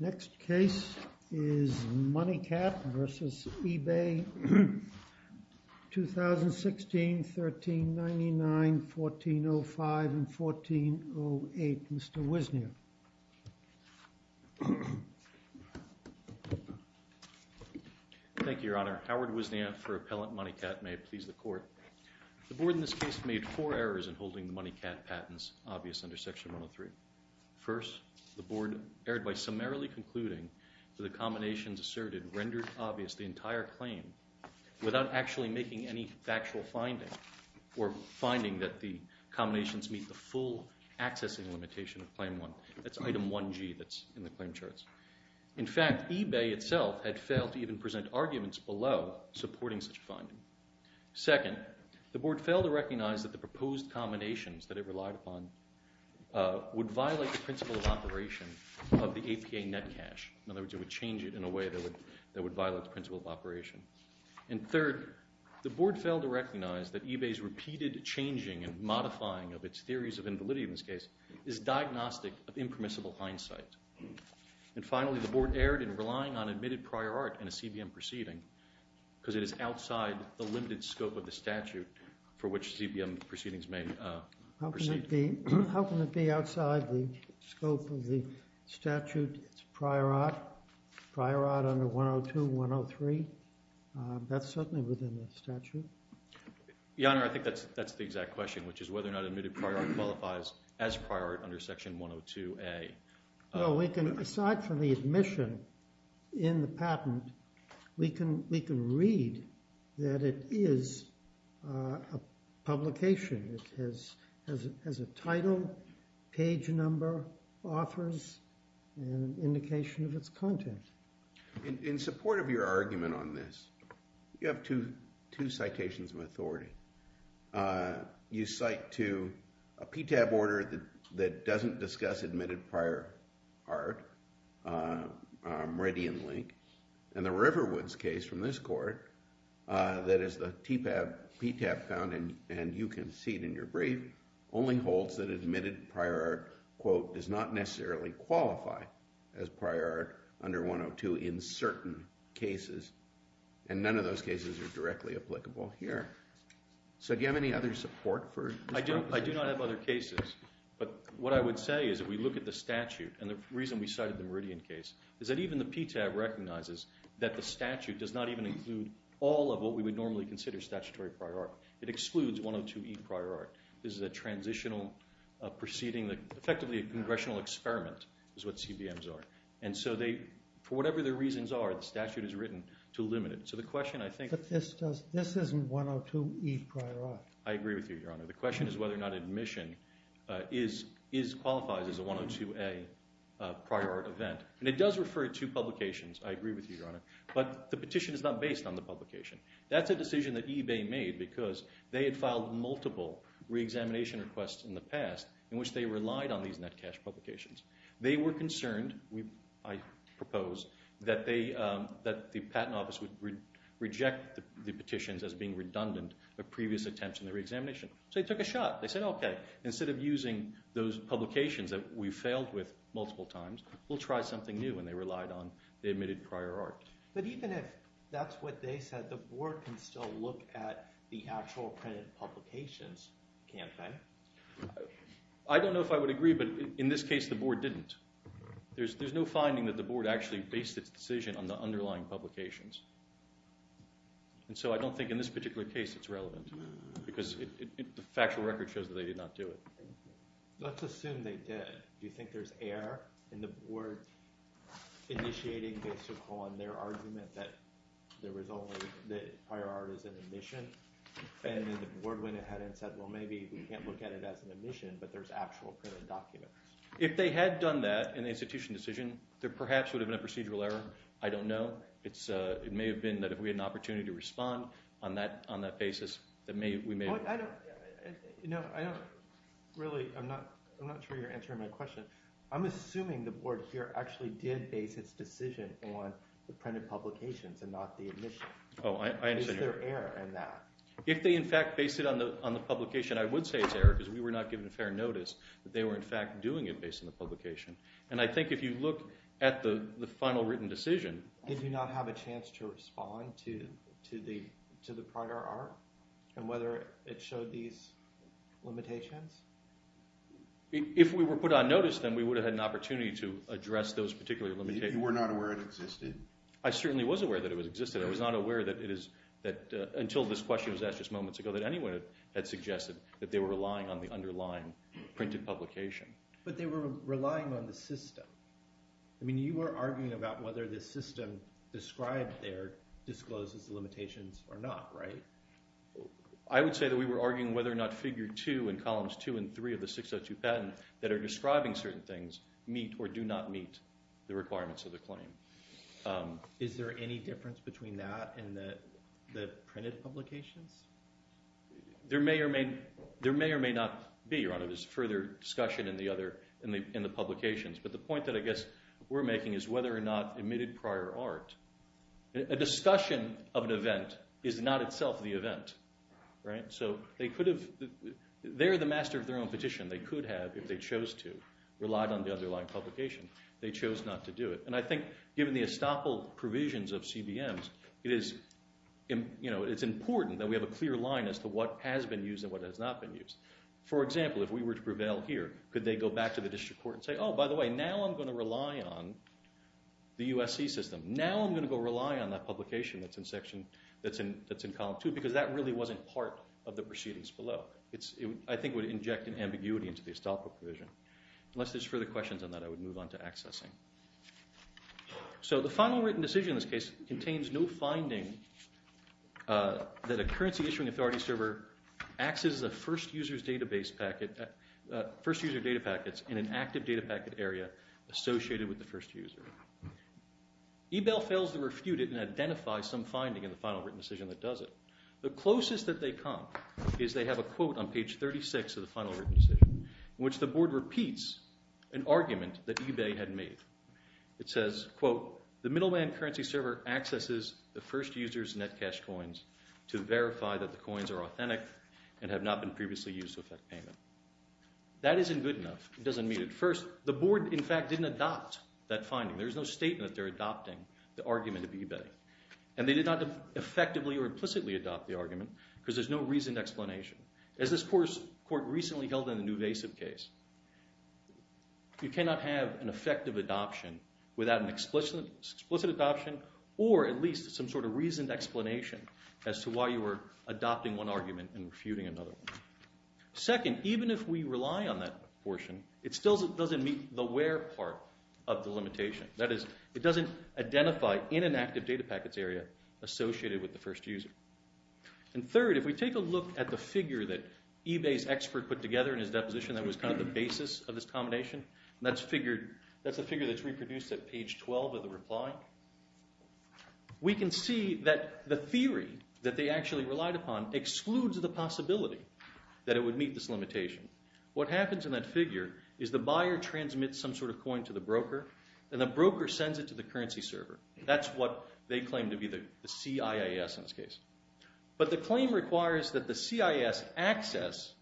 Next case is Moneycat v. Ebay, 2016, 1399, 1405, and 1408, Mr. Wisnia. Your Honor, Howard Wisnia for Appellant Moneycat, and may it please the Court. The Board in this case made four errors in holding the Moneycat patents obvious under Section 103. First, the Board erred by summarily concluding that the combinations asserted rendered obvious the entire claim without actually making any factual finding or finding that the combinations meet the full accessing limitation of Claim 1. That's Item 1G that's in the claim charts. In fact, Ebay itself had failed to even present arguments below supporting such a finding. Second, the Board failed to recognize that the proposed combinations that it relied upon would violate the principle of operation of the APA net cash. In other words, it would change it in a way that would violate the principle of operation. And third, the Board failed to recognize that Ebay's repeated changing and modifying of its theories of invalidity in this case is diagnostic of impermissible hindsight. And finally, the Board erred in relying on admitted prior art in a CBM proceeding because it is outside the limited scope of the statute for which CBM proceedings may proceed. How can it be outside the scope of the statute prior art? Prior art under 102, 103, that's certainly within the statute. Your Honor, I think that's the exact question, which is whether or not admitted prior art qualifies as prior art under Section 102A. Well, we can, aside from the admission in the patent, we can read that it is a publication. It has a title, page number, authors, and indication of its content. In support of your argument on this, you have two citations of authority. You cite to a PTAB order that doesn't discuss admitted prior art, Reddy and Link, and the Riverwoods case from this court that is the TPAB, PTAB found, and you can see it in your brief, only holds that admitted prior art, quote, does not necessarily qualify as prior art under 102 in certain cases. And none of those cases are directly applicable here. So do you have any other support for this proposition? I do not have other cases, but what I would say is that we look at the statute, and the reason we cited the Meridian case is that even the PTAB recognizes that the statute does not even include all of what we would normally consider statutory prior art. It excludes 102E prior art. This is a transitional proceeding, effectively a congressional experiment is what CBMs are. And so for whatever their reasons are, the statute is written to limit it. But this isn't 102E prior art. I agree with you, Your Honor. The question is whether or not admission qualifies as a 102A prior art event. And it does refer to publications, I agree with you, Your Honor, but the petition is not based on the publication. That's a decision that eBay made because they had filed multiple reexamination requests in the past in which they relied on these net cash publications. They were concerned, I propose, that the patent office would reject the petitions as being redundant of previous attempts in the reexamination. So they took a shot. They said, okay, instead of using those publications that we failed with multiple times, we'll try something new, and they relied on the admitted prior art. But even if that's what they said, the board can still look at the actual printed publications, can't they? I don't know if I would agree, but in this case the board didn't. There's no finding that the board actually based its decision on the underlying publications. And so I don't think in this particular case it's relevant because the factual record shows that they did not do it. Let's assume they did. Do you think there's error in the board initiating based upon their argument that there was only the prior art as an admission? And then the board went ahead and said, well, maybe we can't look at it as an admission, but there's actual printed documents. If they had done that in the institution decision, there perhaps would have been a procedural error. I don't know. It may have been that if we had an opportunity to respond on that basis that we may have – No, I don't really – I'm not sure you're answering my question. I'm assuming the board here actually did base its decision on the printed publications and not the admission. Is there error in that? If they, in fact, based it on the publication, I would say it's error because we were not given fair notice that they were, in fact, doing it based on the publication. And I think if you look at the final written decision – If we were put on notice, then we would have had an opportunity to address those particular limitations. You were not aware it existed? I certainly was aware that it existed. I was not aware that it is – until this question was asked just moments ago that anyone had suggested that they were relying on the underlying printed publication. But they were relying on the system. I mean you were arguing about whether the system described there discloses the limitations or not, right? I would say that we were arguing whether or not Figure 2 and Columns 2 and 3 of the 602 patent that are describing certain things meet or do not meet the requirements of the claim. Is there any difference between that and the printed publications? There may or may not be. There's further discussion in the publications. But the point that I guess we're making is whether or not admitted prior art. A discussion of an event is not itself the event, right? So they could have – they're the master of their own petition. They could have, if they chose to, relied on the underlying publication. They chose not to do it. And I think given the estoppel provisions of CBMs, it is – it's important that we have a clear line as to what has been used and what has not been used. For example, if we were to prevail here, could they go back to the district court and say, oh, by the way, now I'm going to rely on the USC system. Now I'm going to go rely on that publication that's in section – that's in Column 2 because that really wasn't part of the proceedings below. It's – I think it would inject an ambiguity into the estoppel provision. Unless there's further questions on that, I would move on to accessing. So the final written decision in this case contains no finding that a currency issuing authority server accesses a first user's database packet – first user data packets in an active data packet area associated with the first user. eBay fails to refute it and identify some finding in the final written decision that does it. The closest that they come is they have a quote on page 36 of the final written decision in which the board repeats an argument that eBay had made. It says, quote, the middleman currency server accesses the first user's net cash coins to verify that the coins are authentic and have not been previously used to effect payment. That isn't good enough. It doesn't meet it. First, the board, in fact, didn't adopt that finding. There's no statement that they're adopting the argument of eBay. And they did not effectively or implicitly adopt the argument because there's no reasoned explanation. As this court recently held in the Nuvasiv case, you cannot have an effective adoption without an explicit adoption or at least some sort of reasoned explanation as to why you were adopting one argument and refuting another one. Second, even if we rely on that portion, it still doesn't meet the where part of the limitation. That is, it doesn't identify in an active data packets area associated with the first user. And third, if we take a look at the figure that eBay's expert put together in his deposition that was kind of the basis of this combination, that's a figure that's reproduced at page 12 of the reply. We can see that the theory that they actually relied upon excludes the possibility that it would meet this limitation. What happens in that figure is the buyer transmits some sort of coin to the broker and the broker sends it to the currency server. That's what they claim to be the CIIS in this case. But the claim requires that the CIIS access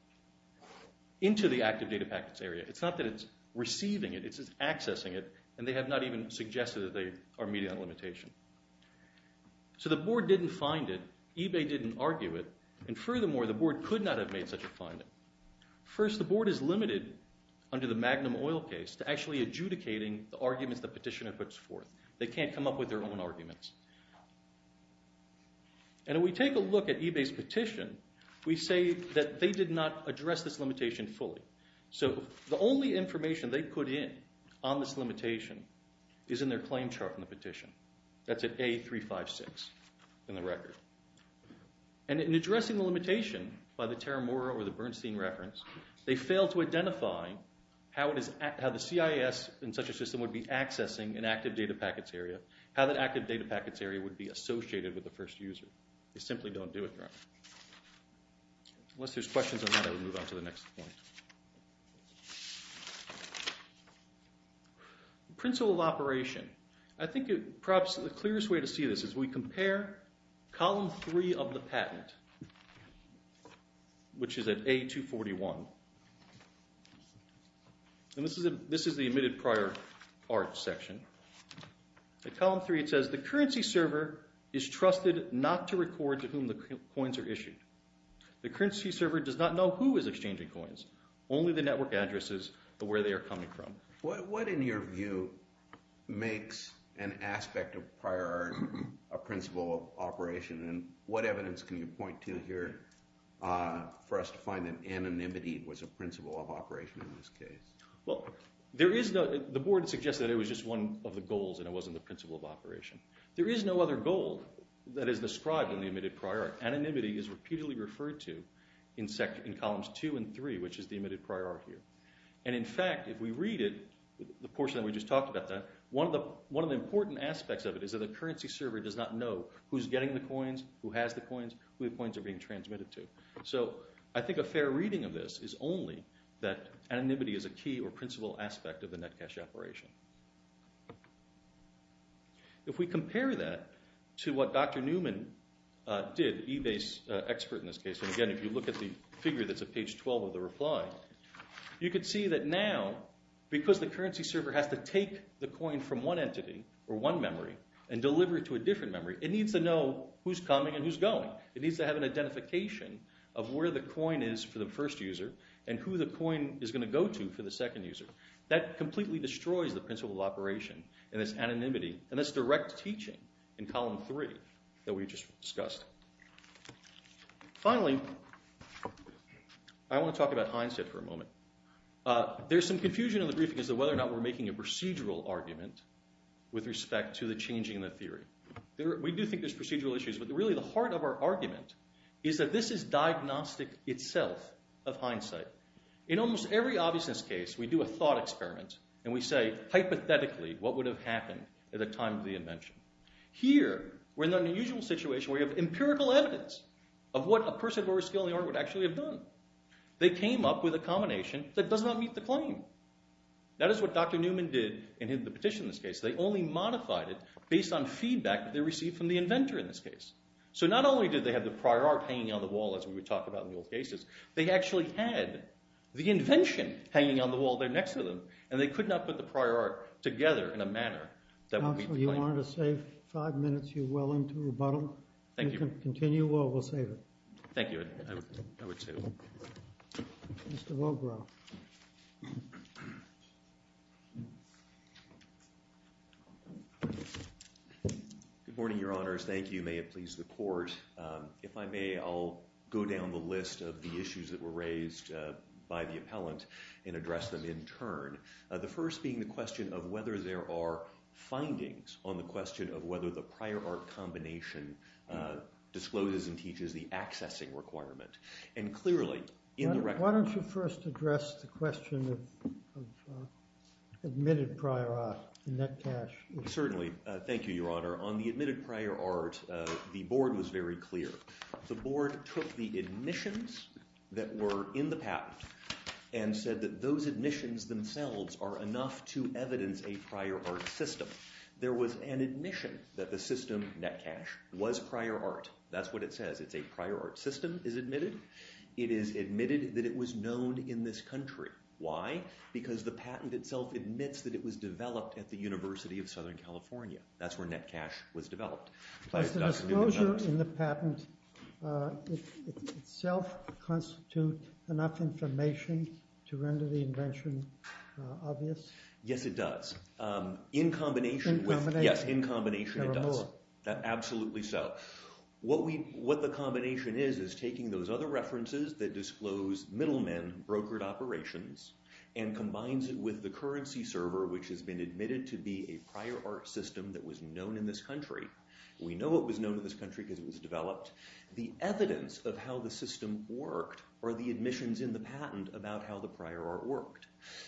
into the active data packets area. It's not that it's receiving it, it's just accessing it, and they have not even suggested that they are meeting that limitation. So the board didn't find it, eBay didn't argue it, and furthermore, the board could not have made such a finding. First, the board is limited under the Magnum Oil case to actually adjudicating the arguments the petitioner puts forth. They can't come up with their own arguments. And if we take a look at eBay's petition, we say that they did not address this limitation fully. So the only information they put in on this limitation is in their claim chart from the petition. That's at A356 in the record. And in addressing the limitation by the Terra Mora or the Bernstein reference, they failed to identify how the CIIS in such a system would be accessing an active data packets area, how that active data packets area would be associated with the first user. They simply don't do it, Your Honor. Unless there's questions on that, I will move on to the next point. Principle of operation. I think perhaps the clearest way to see this is we compare column 3 of the patent, which is at A241. And this is the admitted prior art section. At column 3, it says, the currency server is trusted not to record to whom the coins are issued. The currency server does not know who is exchanging coins, only the network addresses or where they are coming from. What, in your view, makes an aspect of prior art a principle of operation? And what evidence can you point to here for us to find that anonymity was a principle of operation in this case? Well, the board suggested it was just one of the goals and it wasn't the principle of operation. There is no other goal that is described in the admitted prior art. Anonymity is repeatedly referred to in columns 2 and 3, which is the admitted prior art here. And in fact, if we read it, the portion that we just talked about that, one of the important aspects of it is that the currency server does not know who's getting the coins, who has the coins, who the coins are being transmitted to. So I think a fair reading of this is only that anonymity is a key or principle aspect of the net cash operation. If we compare that to what Dr. Newman did, eBay's expert in this case, and again, if you look at the figure that's at page 12 of the reply, you can see that now, because the currency server has to take the coin from one entity or one memory and deliver it to a different memory, it needs to know who's coming and who's going. It needs to have an identification of where the coin is for the first user and who the coin is going to go to for the second user. That completely destroys the principle of operation and this anonymity and this direct teaching in column 3 that we just discussed. Finally, I want to talk about hindsight for a moment. There's some confusion in the briefing as to whether or not we're making a procedural argument with respect to the changing of the theory. We do think there's procedural issues, but really the heart of our argument is that this is diagnostic itself of hindsight. In almost every obviousness case, we do a thought experiment and we say, hypothetically, what would have happened at the time of the invention? Here, we're in an unusual situation where we have empirical evidence of what a person of lower skill in the art would actually have done. They came up with a combination that does not meet the claim. That is what Dr. Newman did in the petition in this case. They only modified it based on feedback that they received from the inventor in this case. So not only did they have the prior art hanging on the wall, as we would talk about in the old cases, they actually had the invention hanging on the wall there next to them and they could not put the prior art together in a manner that would meet the claim. Counselor, you wanted to save five minutes. You're well into rebuttal. Thank you. You can continue or we'll save it. Thank you. I would save it. Mr. Wilgrove. Good morning, Your Honors. Thank you. May it please the court. If I may, I'll go down the list of the issues that were raised by the appellant and address them in turn. The first being the question of whether there are findings on the question of whether the prior art combination discloses and teaches the accessing requirement. And clearly, in the record… Why don't you first address the question of admitted prior art, the net cash? Certainly. Thank you, Your Honor. On the admitted prior art, the board was very clear. The board took the admissions that were in the patent and said that those admissions themselves are enough to evidence a prior art system. There was an admission that the system, net cash, was prior art. That's what it says. It's a prior art system is admitted. It is admitted that it was known in this country. Why? Because the patent itself admits that it was developed at the University of Southern California. That's where net cash was developed. Does the disclosure in the patent itself constitute enough information to render the invention obvious? Yes, it does. In combination with… In combination. Yes, in combination it does. Absolutely so. What the combination is, is taking those other references that disclose middlemen brokered operations and combines it with the currency server, which has been admitted to be a prior art system that was known in this country. We know it was known in this country because it was developed. The evidence of how the system worked are the admissions in the patent about how the prior art worked.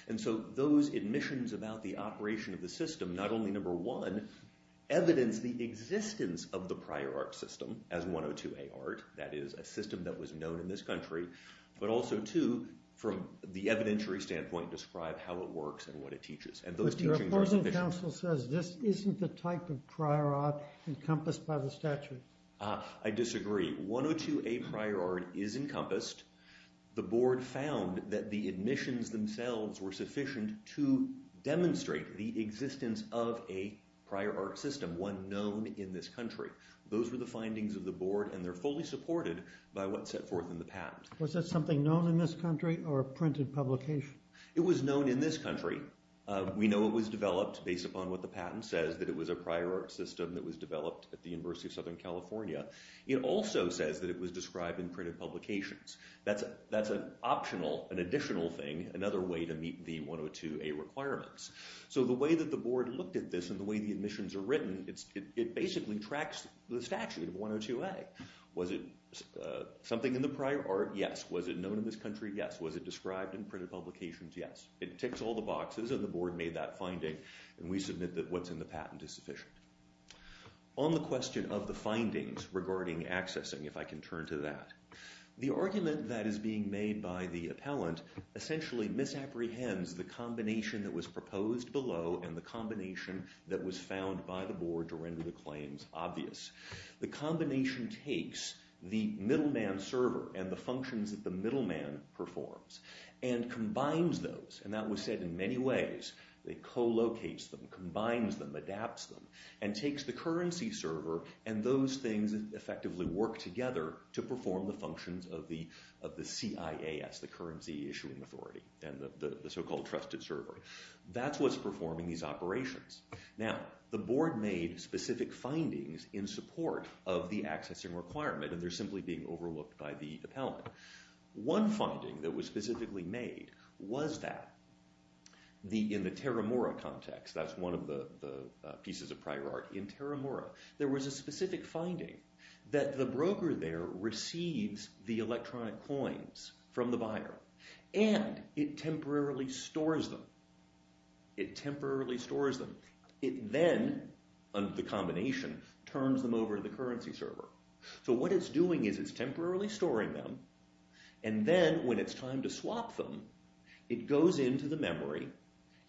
And so those admissions about the operation of the system, not only, number one, evidence the existence of the prior art system as 102A art, that is, a system that was known in this country, but also, two, from the evidentiary standpoint, describe how it works and what it teaches. And those teachings are sufficient. But your opposing counsel says this isn't the type of prior art encompassed by the statute. I disagree. 102A prior art is encompassed. The board found that the admissions themselves were sufficient to demonstrate the existence of a prior art system, one known in this country. Those were the findings of the board, and they're fully supported by what's set forth in the patent. Was that something known in this country or a printed publication? It was known in this country. We know it was developed based upon what the patent says, that it was a prior art system that was developed at the University of Southern California. It also says that it was described in printed publications. That's an optional, an additional thing, another way to meet the 102A requirements. So the way that the board looked at this and the way the admissions are written, it basically tracks the statute of 102A. Was it something in the prior art? Yes. Was it known in this country? Yes. Was it described in printed publications? Yes. It ticks all the boxes, and the board made that finding, and we submit that what's in the patent is sufficient. On the question of the findings regarding accessing, if I can turn to that, the argument that is being made by the appellant essentially misapprehends the combination that was proposed below and the combination that was found by the board to render the claims obvious. The combination takes the middleman server and the functions that the middleman performs and combines those, and that was said in many ways. It co-locates them, combines them, adapts them, and takes the currency server, and those things effectively work together to perform the functions of the CIAS, the Currency Issuing Authority, and the so-called trusted server. That's what's performing these operations. Now, the board made specific findings in support of the accessing requirement, and they're simply being overlooked by the appellant. One finding that was specifically made was that in the Terramura context, that's one of the pieces of prior art, in Terramura, there was a specific finding that the broker there receives the electronic coins from the buyer, and it temporarily stores them. It temporarily stores them. It then, under the combination, turns them over to the currency server. So what it's doing is it's temporarily storing them, and then when it's time to swap them, it goes into the memory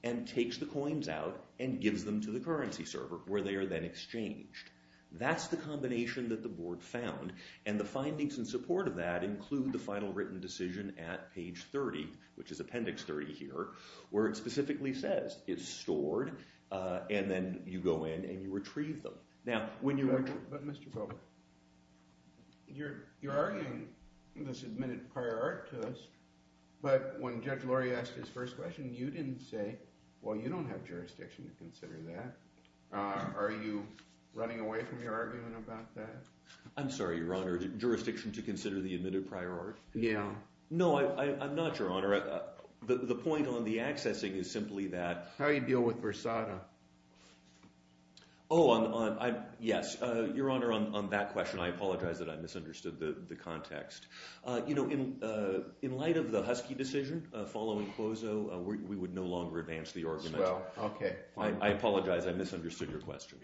and takes the coins out and gives them to the currency server, where they are then exchanged. That's the combination that the board found, and the findings in support of that include the final written decision at page 30, which is appendix 30 here, where it specifically says it's stored, and then you go in and you retrieve them. Now, when you... But, Mr. Fogart, you're arguing this admitted prior art to us, but when Judge Lori asked his first question, you didn't say, well, you don't have jurisdiction to consider that. Are you running away from your argument about that? I'm sorry, Your Honor. Do you have jurisdiction to consider the admitted prior art? Yeah. No, I'm not, Your Honor. The point on the accessing is simply that... How do you deal with Versada? Oh, on... Yes. Your Honor, on that question, I apologize that I misunderstood the context. You know, in light of the Husky decision, following Cuozo, we would no longer advance the argument. Well, okay. I apologize. I misunderstood your question.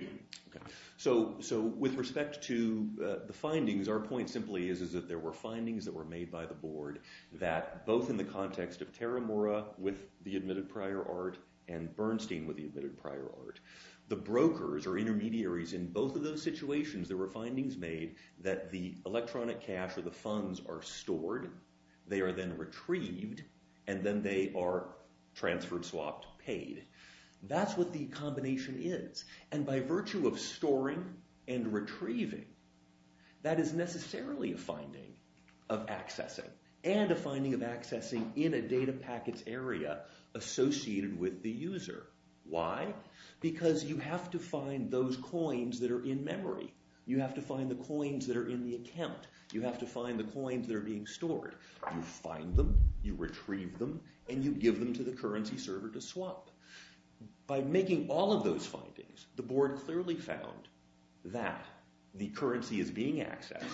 Okay. So, with respect to the findings, our point simply is that there were findings that were made by the board that both in the context of Terramura with the admitted prior art and Bernstein with the admitted prior art, the brokers or intermediaries in both of those situations, there were findings made that the electronic cash or the funds are stored, they are then retrieved, and then they are transferred, swapped, paid. That's what the combination is. And by virtue of storing and retrieving, that is necessarily a finding of accessing and a finding of accessing in a data packets area associated with the user. Why? Because you have to find those coins that are in memory. You have to find the coins that are in the account. You have to find the coins that are being stored. You find them, you retrieve them, and you give them to the currency server to swap. By making all of those findings, the board clearly found that the currency is being accessed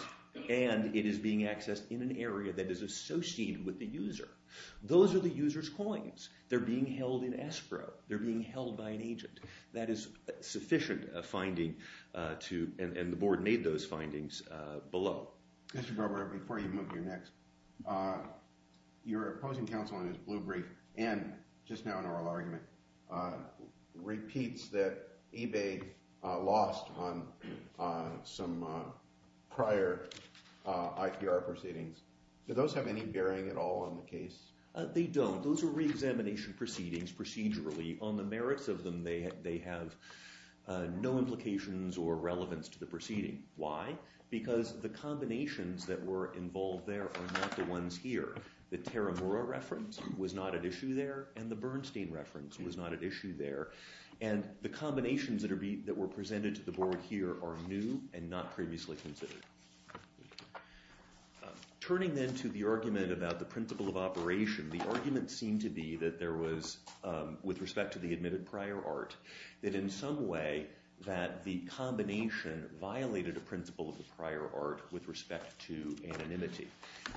and it is being accessed in an area that is associated with the user. Those are the user's coins. They're being held in escrow. They're being held by an agent. That is sufficient a finding to... and the board made those findings below. Mr. Grover, before you move to your next, your opposing counsel in his blue brief and just now in oral argument, repeats that eBay lost on some prior IPR proceedings. Do those have any bearing at all on the case? They don't. Those are reexamination proceedings procedurally. On the merits of them, they have no implications or relevance to the proceeding. Why? Because the combinations that were involved there are not the ones here. The Teramura reference was not an issue there, and the Bernstein reference was not an issue there, and the combinations that were presented to the board here are new and not previously considered. Turning then to the argument about the principle of operation, the argument seemed to be that there was, with respect to the admitted prior art, that in some way that the combination violated a principle of the prior art with respect to anonymity,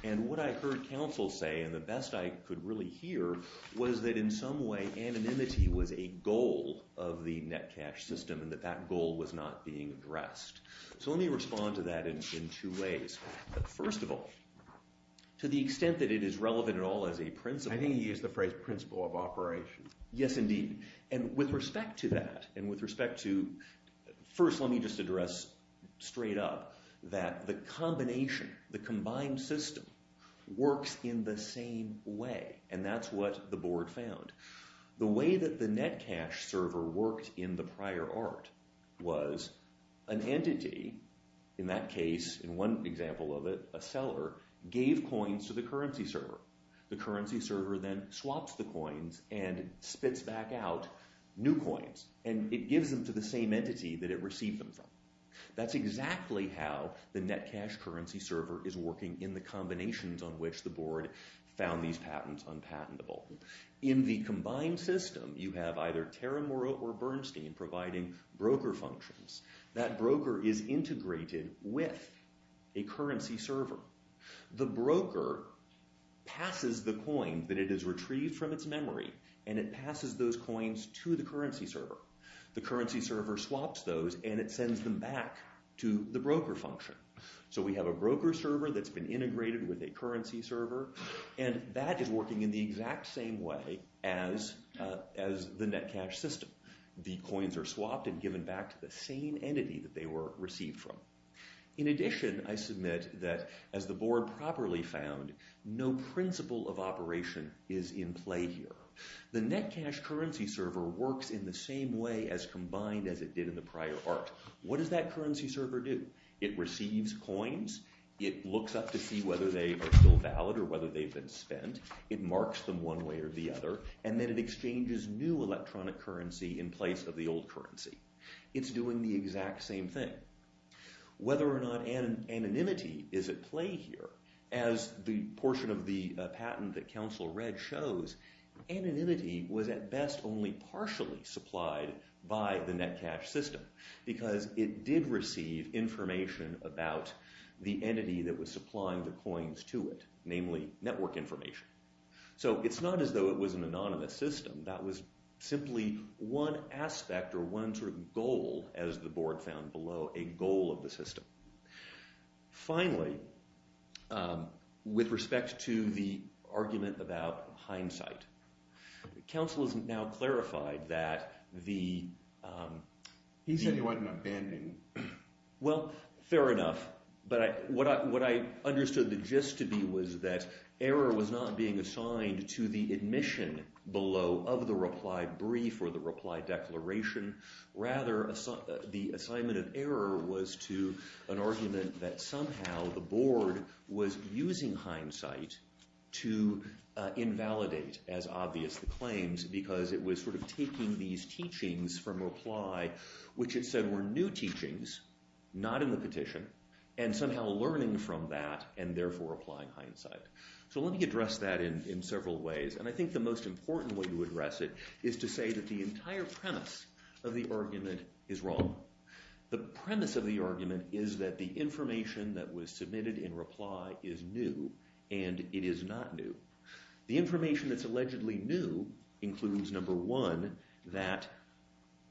and what I heard counsel say, and the best I could really hear, was that in some way anonymity was a goal of the net cash system and that that goal was not being addressed. So let me respond to that in two ways. First of all, to the extent that it is relevant at all as a principle... I think he used the phrase principle of operation. Yes, indeed. And with respect to that, and with respect to... First, let me just address straight up that the combination, the combined system, works in the same way, and that's what the board found. The way that the net cash server worked in the prior art was an entity, in that case, in one example of it, a seller, gave coins to the currency server. The currency server then swaps the coins and spits back out new coins, and it gives them to the same entity that it received them from. That's exactly how the net cash currency server is working in the combinations on which the board found these patents unpatentable. In the combined system, you have either Terramura or Bernstein providing broker functions. That broker is integrated with a currency server. The broker passes the coin that it has retrieved from its memory, and it passes those coins to the currency server. The currency server swaps those, and it sends them back to the broker function. So we have a broker server that's been integrated with a currency server, and that is working in the exact same way as the net cash system. The coins are swapped and given back to the same entity that they were received from. In addition, I submit that, as the board properly found, no principle of operation is in play here. The net cash currency server works in the same way as combined as it did in the prior arc. What does that currency server do? It receives coins. It looks up to see whether they are still valid or whether they've been spent. It marks them one way or the other, and then it exchanges new electronic currency in place of the old currency. It's doing the exact same thing. Whether or not anonymity is at play here, as the portion of the patent that Council read shows, anonymity was at best only partially supplied by the net cash system, because it did receive information about the entity that was supplying the coins to it, namely network information. So it's not as though it was an anonymous system. That was simply one aspect or one sort of goal, as the board found below, a goal of the system. Finally, with respect to the argument about hindsight, Council has now clarified that the... He said he wasn't abandoning. Well, fair enough. But what I understood the gist to be was that error was not being assigned to the admission below of the reply brief or the reply declaration. Rather, the assignment of error was to an argument that somehow the board was using hindsight to invalidate, as obvious, the claims, because it was sort of taking these teachings from reply, which it said were new teachings, not in the petition, and somehow learning from that and therefore applying hindsight. So let me address that in several ways. And I think the most important way to address it is to say that the entire premise of the argument is wrong. The premise of the argument is that the information that was submitted in reply is new, and it is not new. The information that's allegedly new includes, number one, that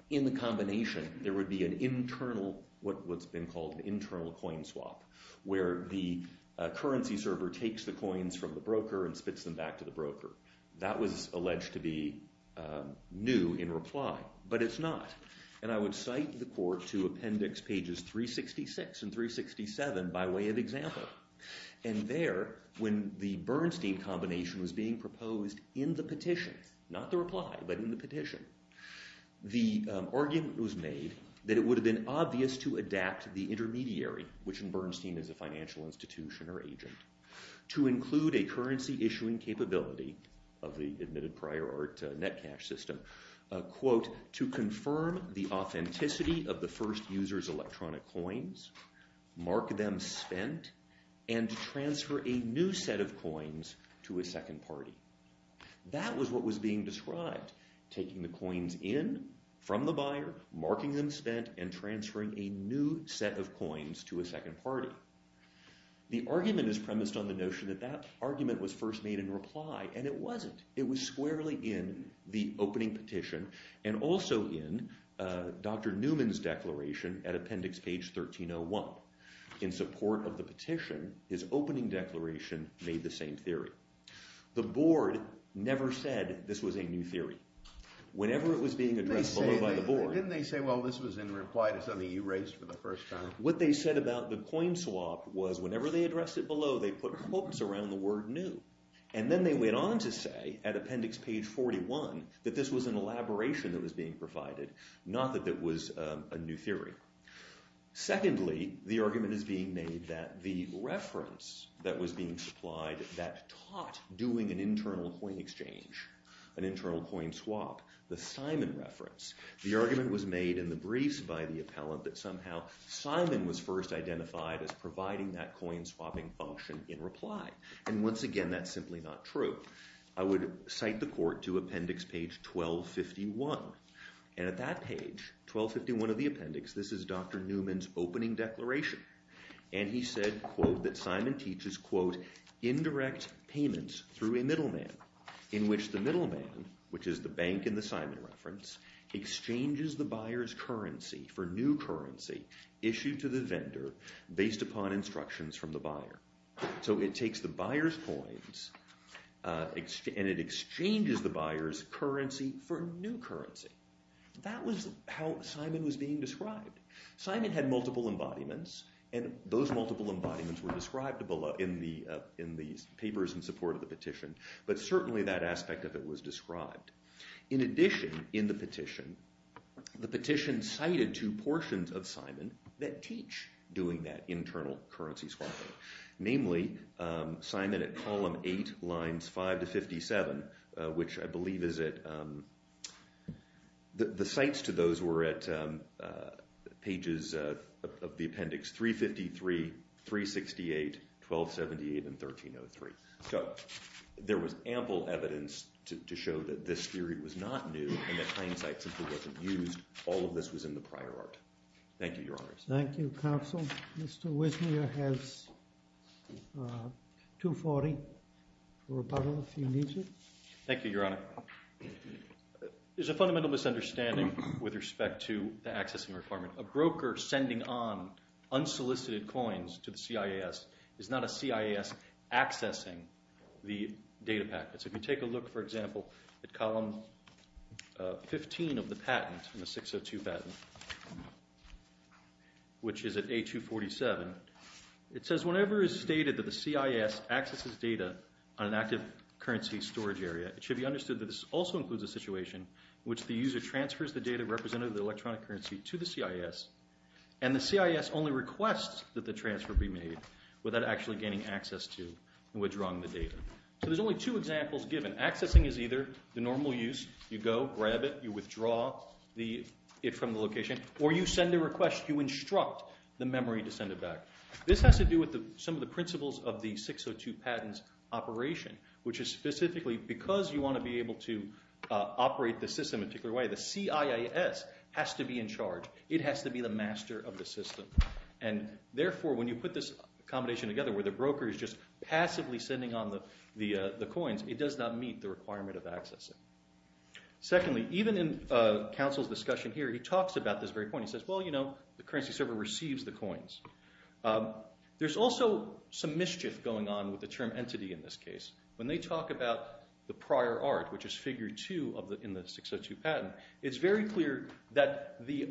in the combination, there would be an internal, what's been called an internal coin swap, where the currency server takes the coins from the broker and spits them back to the broker. That was alleged to be new in reply, but it's not. And I would cite the court to appendix pages 366 and 367 by way of example. And there, when the Bernstein combination was being proposed in the petition, not the reply, but in the petition, the argument was made that it would have been obvious to adapt the intermediary, which in Bernstein is a financial institution or agent, to include a currency issuing capability of the admitted prior art net cash system, quote, to confirm the authenticity of the first user's electronic coins, mark them spent, and transfer a new set of coins to a second party. That was what was being described, taking the coins in from the buyer, marking them spent, and transferring a new set of coins to a second party. The argument is premised on the notion that that argument was first made in reply, and it wasn't. It was squarely in the opening petition and also in Dr. Newman's declaration at appendix page 1301. In support of the petition, his opening declaration made the same theory. The board never said this was a new theory. Whenever it was being addressed below by the board... Didn't they say, well, this was in reply to something you raised for the first time? What they said about the coin swap was whenever they addressed it below, they put quotes around the word new, and then they went on to say at appendix page 41 that this was an elaboration that was being provided, not that it was a new theory. Secondly, the argument is being made that the reference that was being supplied that taught doing an internal coin exchange, an internal coin swap, the Simon reference, the argument was made in the briefs by the appellant that somehow Simon was first identified as providing that coin swapping function in reply. And once again, that's simply not true. I would cite the court to appendix page 1251. And at that page, 1251 of the appendix, this is Dr. Newman's opening declaration. And he said, quote, that Simon teaches, quote, indirect payments through a middleman in which the middleman, which is the bank in the Simon reference, exchanges the buyer's currency for new currency issued to the vendor based upon instructions from the buyer. So it takes the buyer's coins, and it exchanges the buyer's currency for new currency. That was how Simon was being described. Simon had multiple embodiments, and those multiple embodiments were described in the papers in support of the petition, but certainly that aspect of it was described. In addition, in the petition, the petition cited two portions of Simon that teach doing that internal currency swapping, namely Simon at column 8, lines 5 to 57, which I believe is at... The cites to those were at pages of the appendix 353, 368, 1278, and 1303. So there was ample evidence to show that this theory was not new and that plain sight simply wasn't used. All of this was in the prior art. Thank you, Your Honor. Thank you, counsel. Mr. Wisner has 240 for rebuttal if he needs it. Thank you, Your Honor. There's a fundamental misunderstanding with respect to the accessing requirement. A broker sending on unsolicited coins to the CIS is not a CIS accessing the data packets. If you take a look, for example, at column 15 of the patent, the 602 patent, which is at A247, it says whenever it's stated that the CIS accesses data on an active currency storage area, it should be understood that this also includes a situation in which the user transfers the data represented in the electronic currency to the CIS, and the CIS only requests that the transfer be made without actually gaining access to and withdrawing the data. So there's only 2 examples given. Accessing is either the normal use. You go, grab it, you withdraw it from the location, or you send a request. You instruct the memory to send it back. This has to do with some of the principles of the 602 patent's operation, which is specifically because you want to be able to operate the system in a particular way, the CIS has to be in charge. It has to be the master of the system. And therefore, when you put this combination together, where the broker is just passively sending on the coins, it does not meet the requirement of accessing. Secondly, even in Council's discussion here, he talks about this very point. He says, well, you know, the currency server receives the coins. There's also some mischief going on with the term entity in this case. When they talk about the prior art, which is figure 2 in the 602 patent, it's very clear that the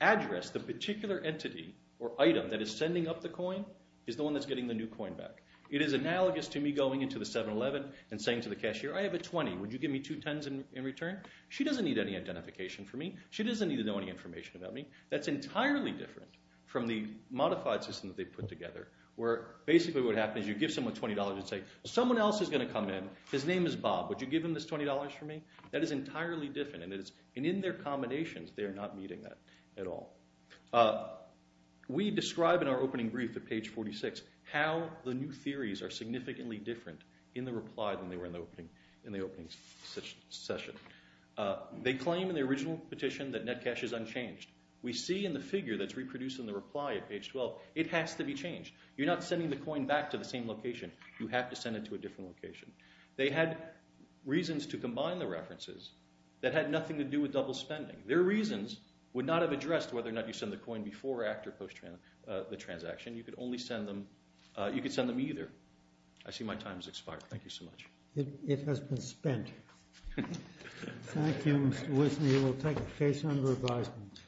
address, the particular entity or item that is sending up the coin is the one that's getting the new coin back. It is analogous to me going into the 711 and saying to the cashier, I have a 20. Would you give me two 10s in return? She doesn't need any identification from me. She doesn't need to know any information about me. That's entirely different from the modified system that they put together, where basically what happens is you give someone $20 and say, someone else is going to come in. His name is Bob. Would you give him this $20 for me? That is entirely different. And in their combinations, they are not meeting that at all. We describe in our opening brief at page 46 how the new theories are significantly different in the reply than they were in the opening session. They claim in the original petition that net cash is unchanged. We see in the figure that's reproduced in the reply at page 12, it has to be changed. You're not sending the coin back to the same location. You have to send it to a different location. They had reasons to combine the references that had nothing to do with double spending. Their reasons would not have addressed whether or not you send the coin before or after the transaction. You could send them either. I see my time has expired. Thank you so much. It has been spent. Thank you, Mr. Wisney. We'll take a case under advisement.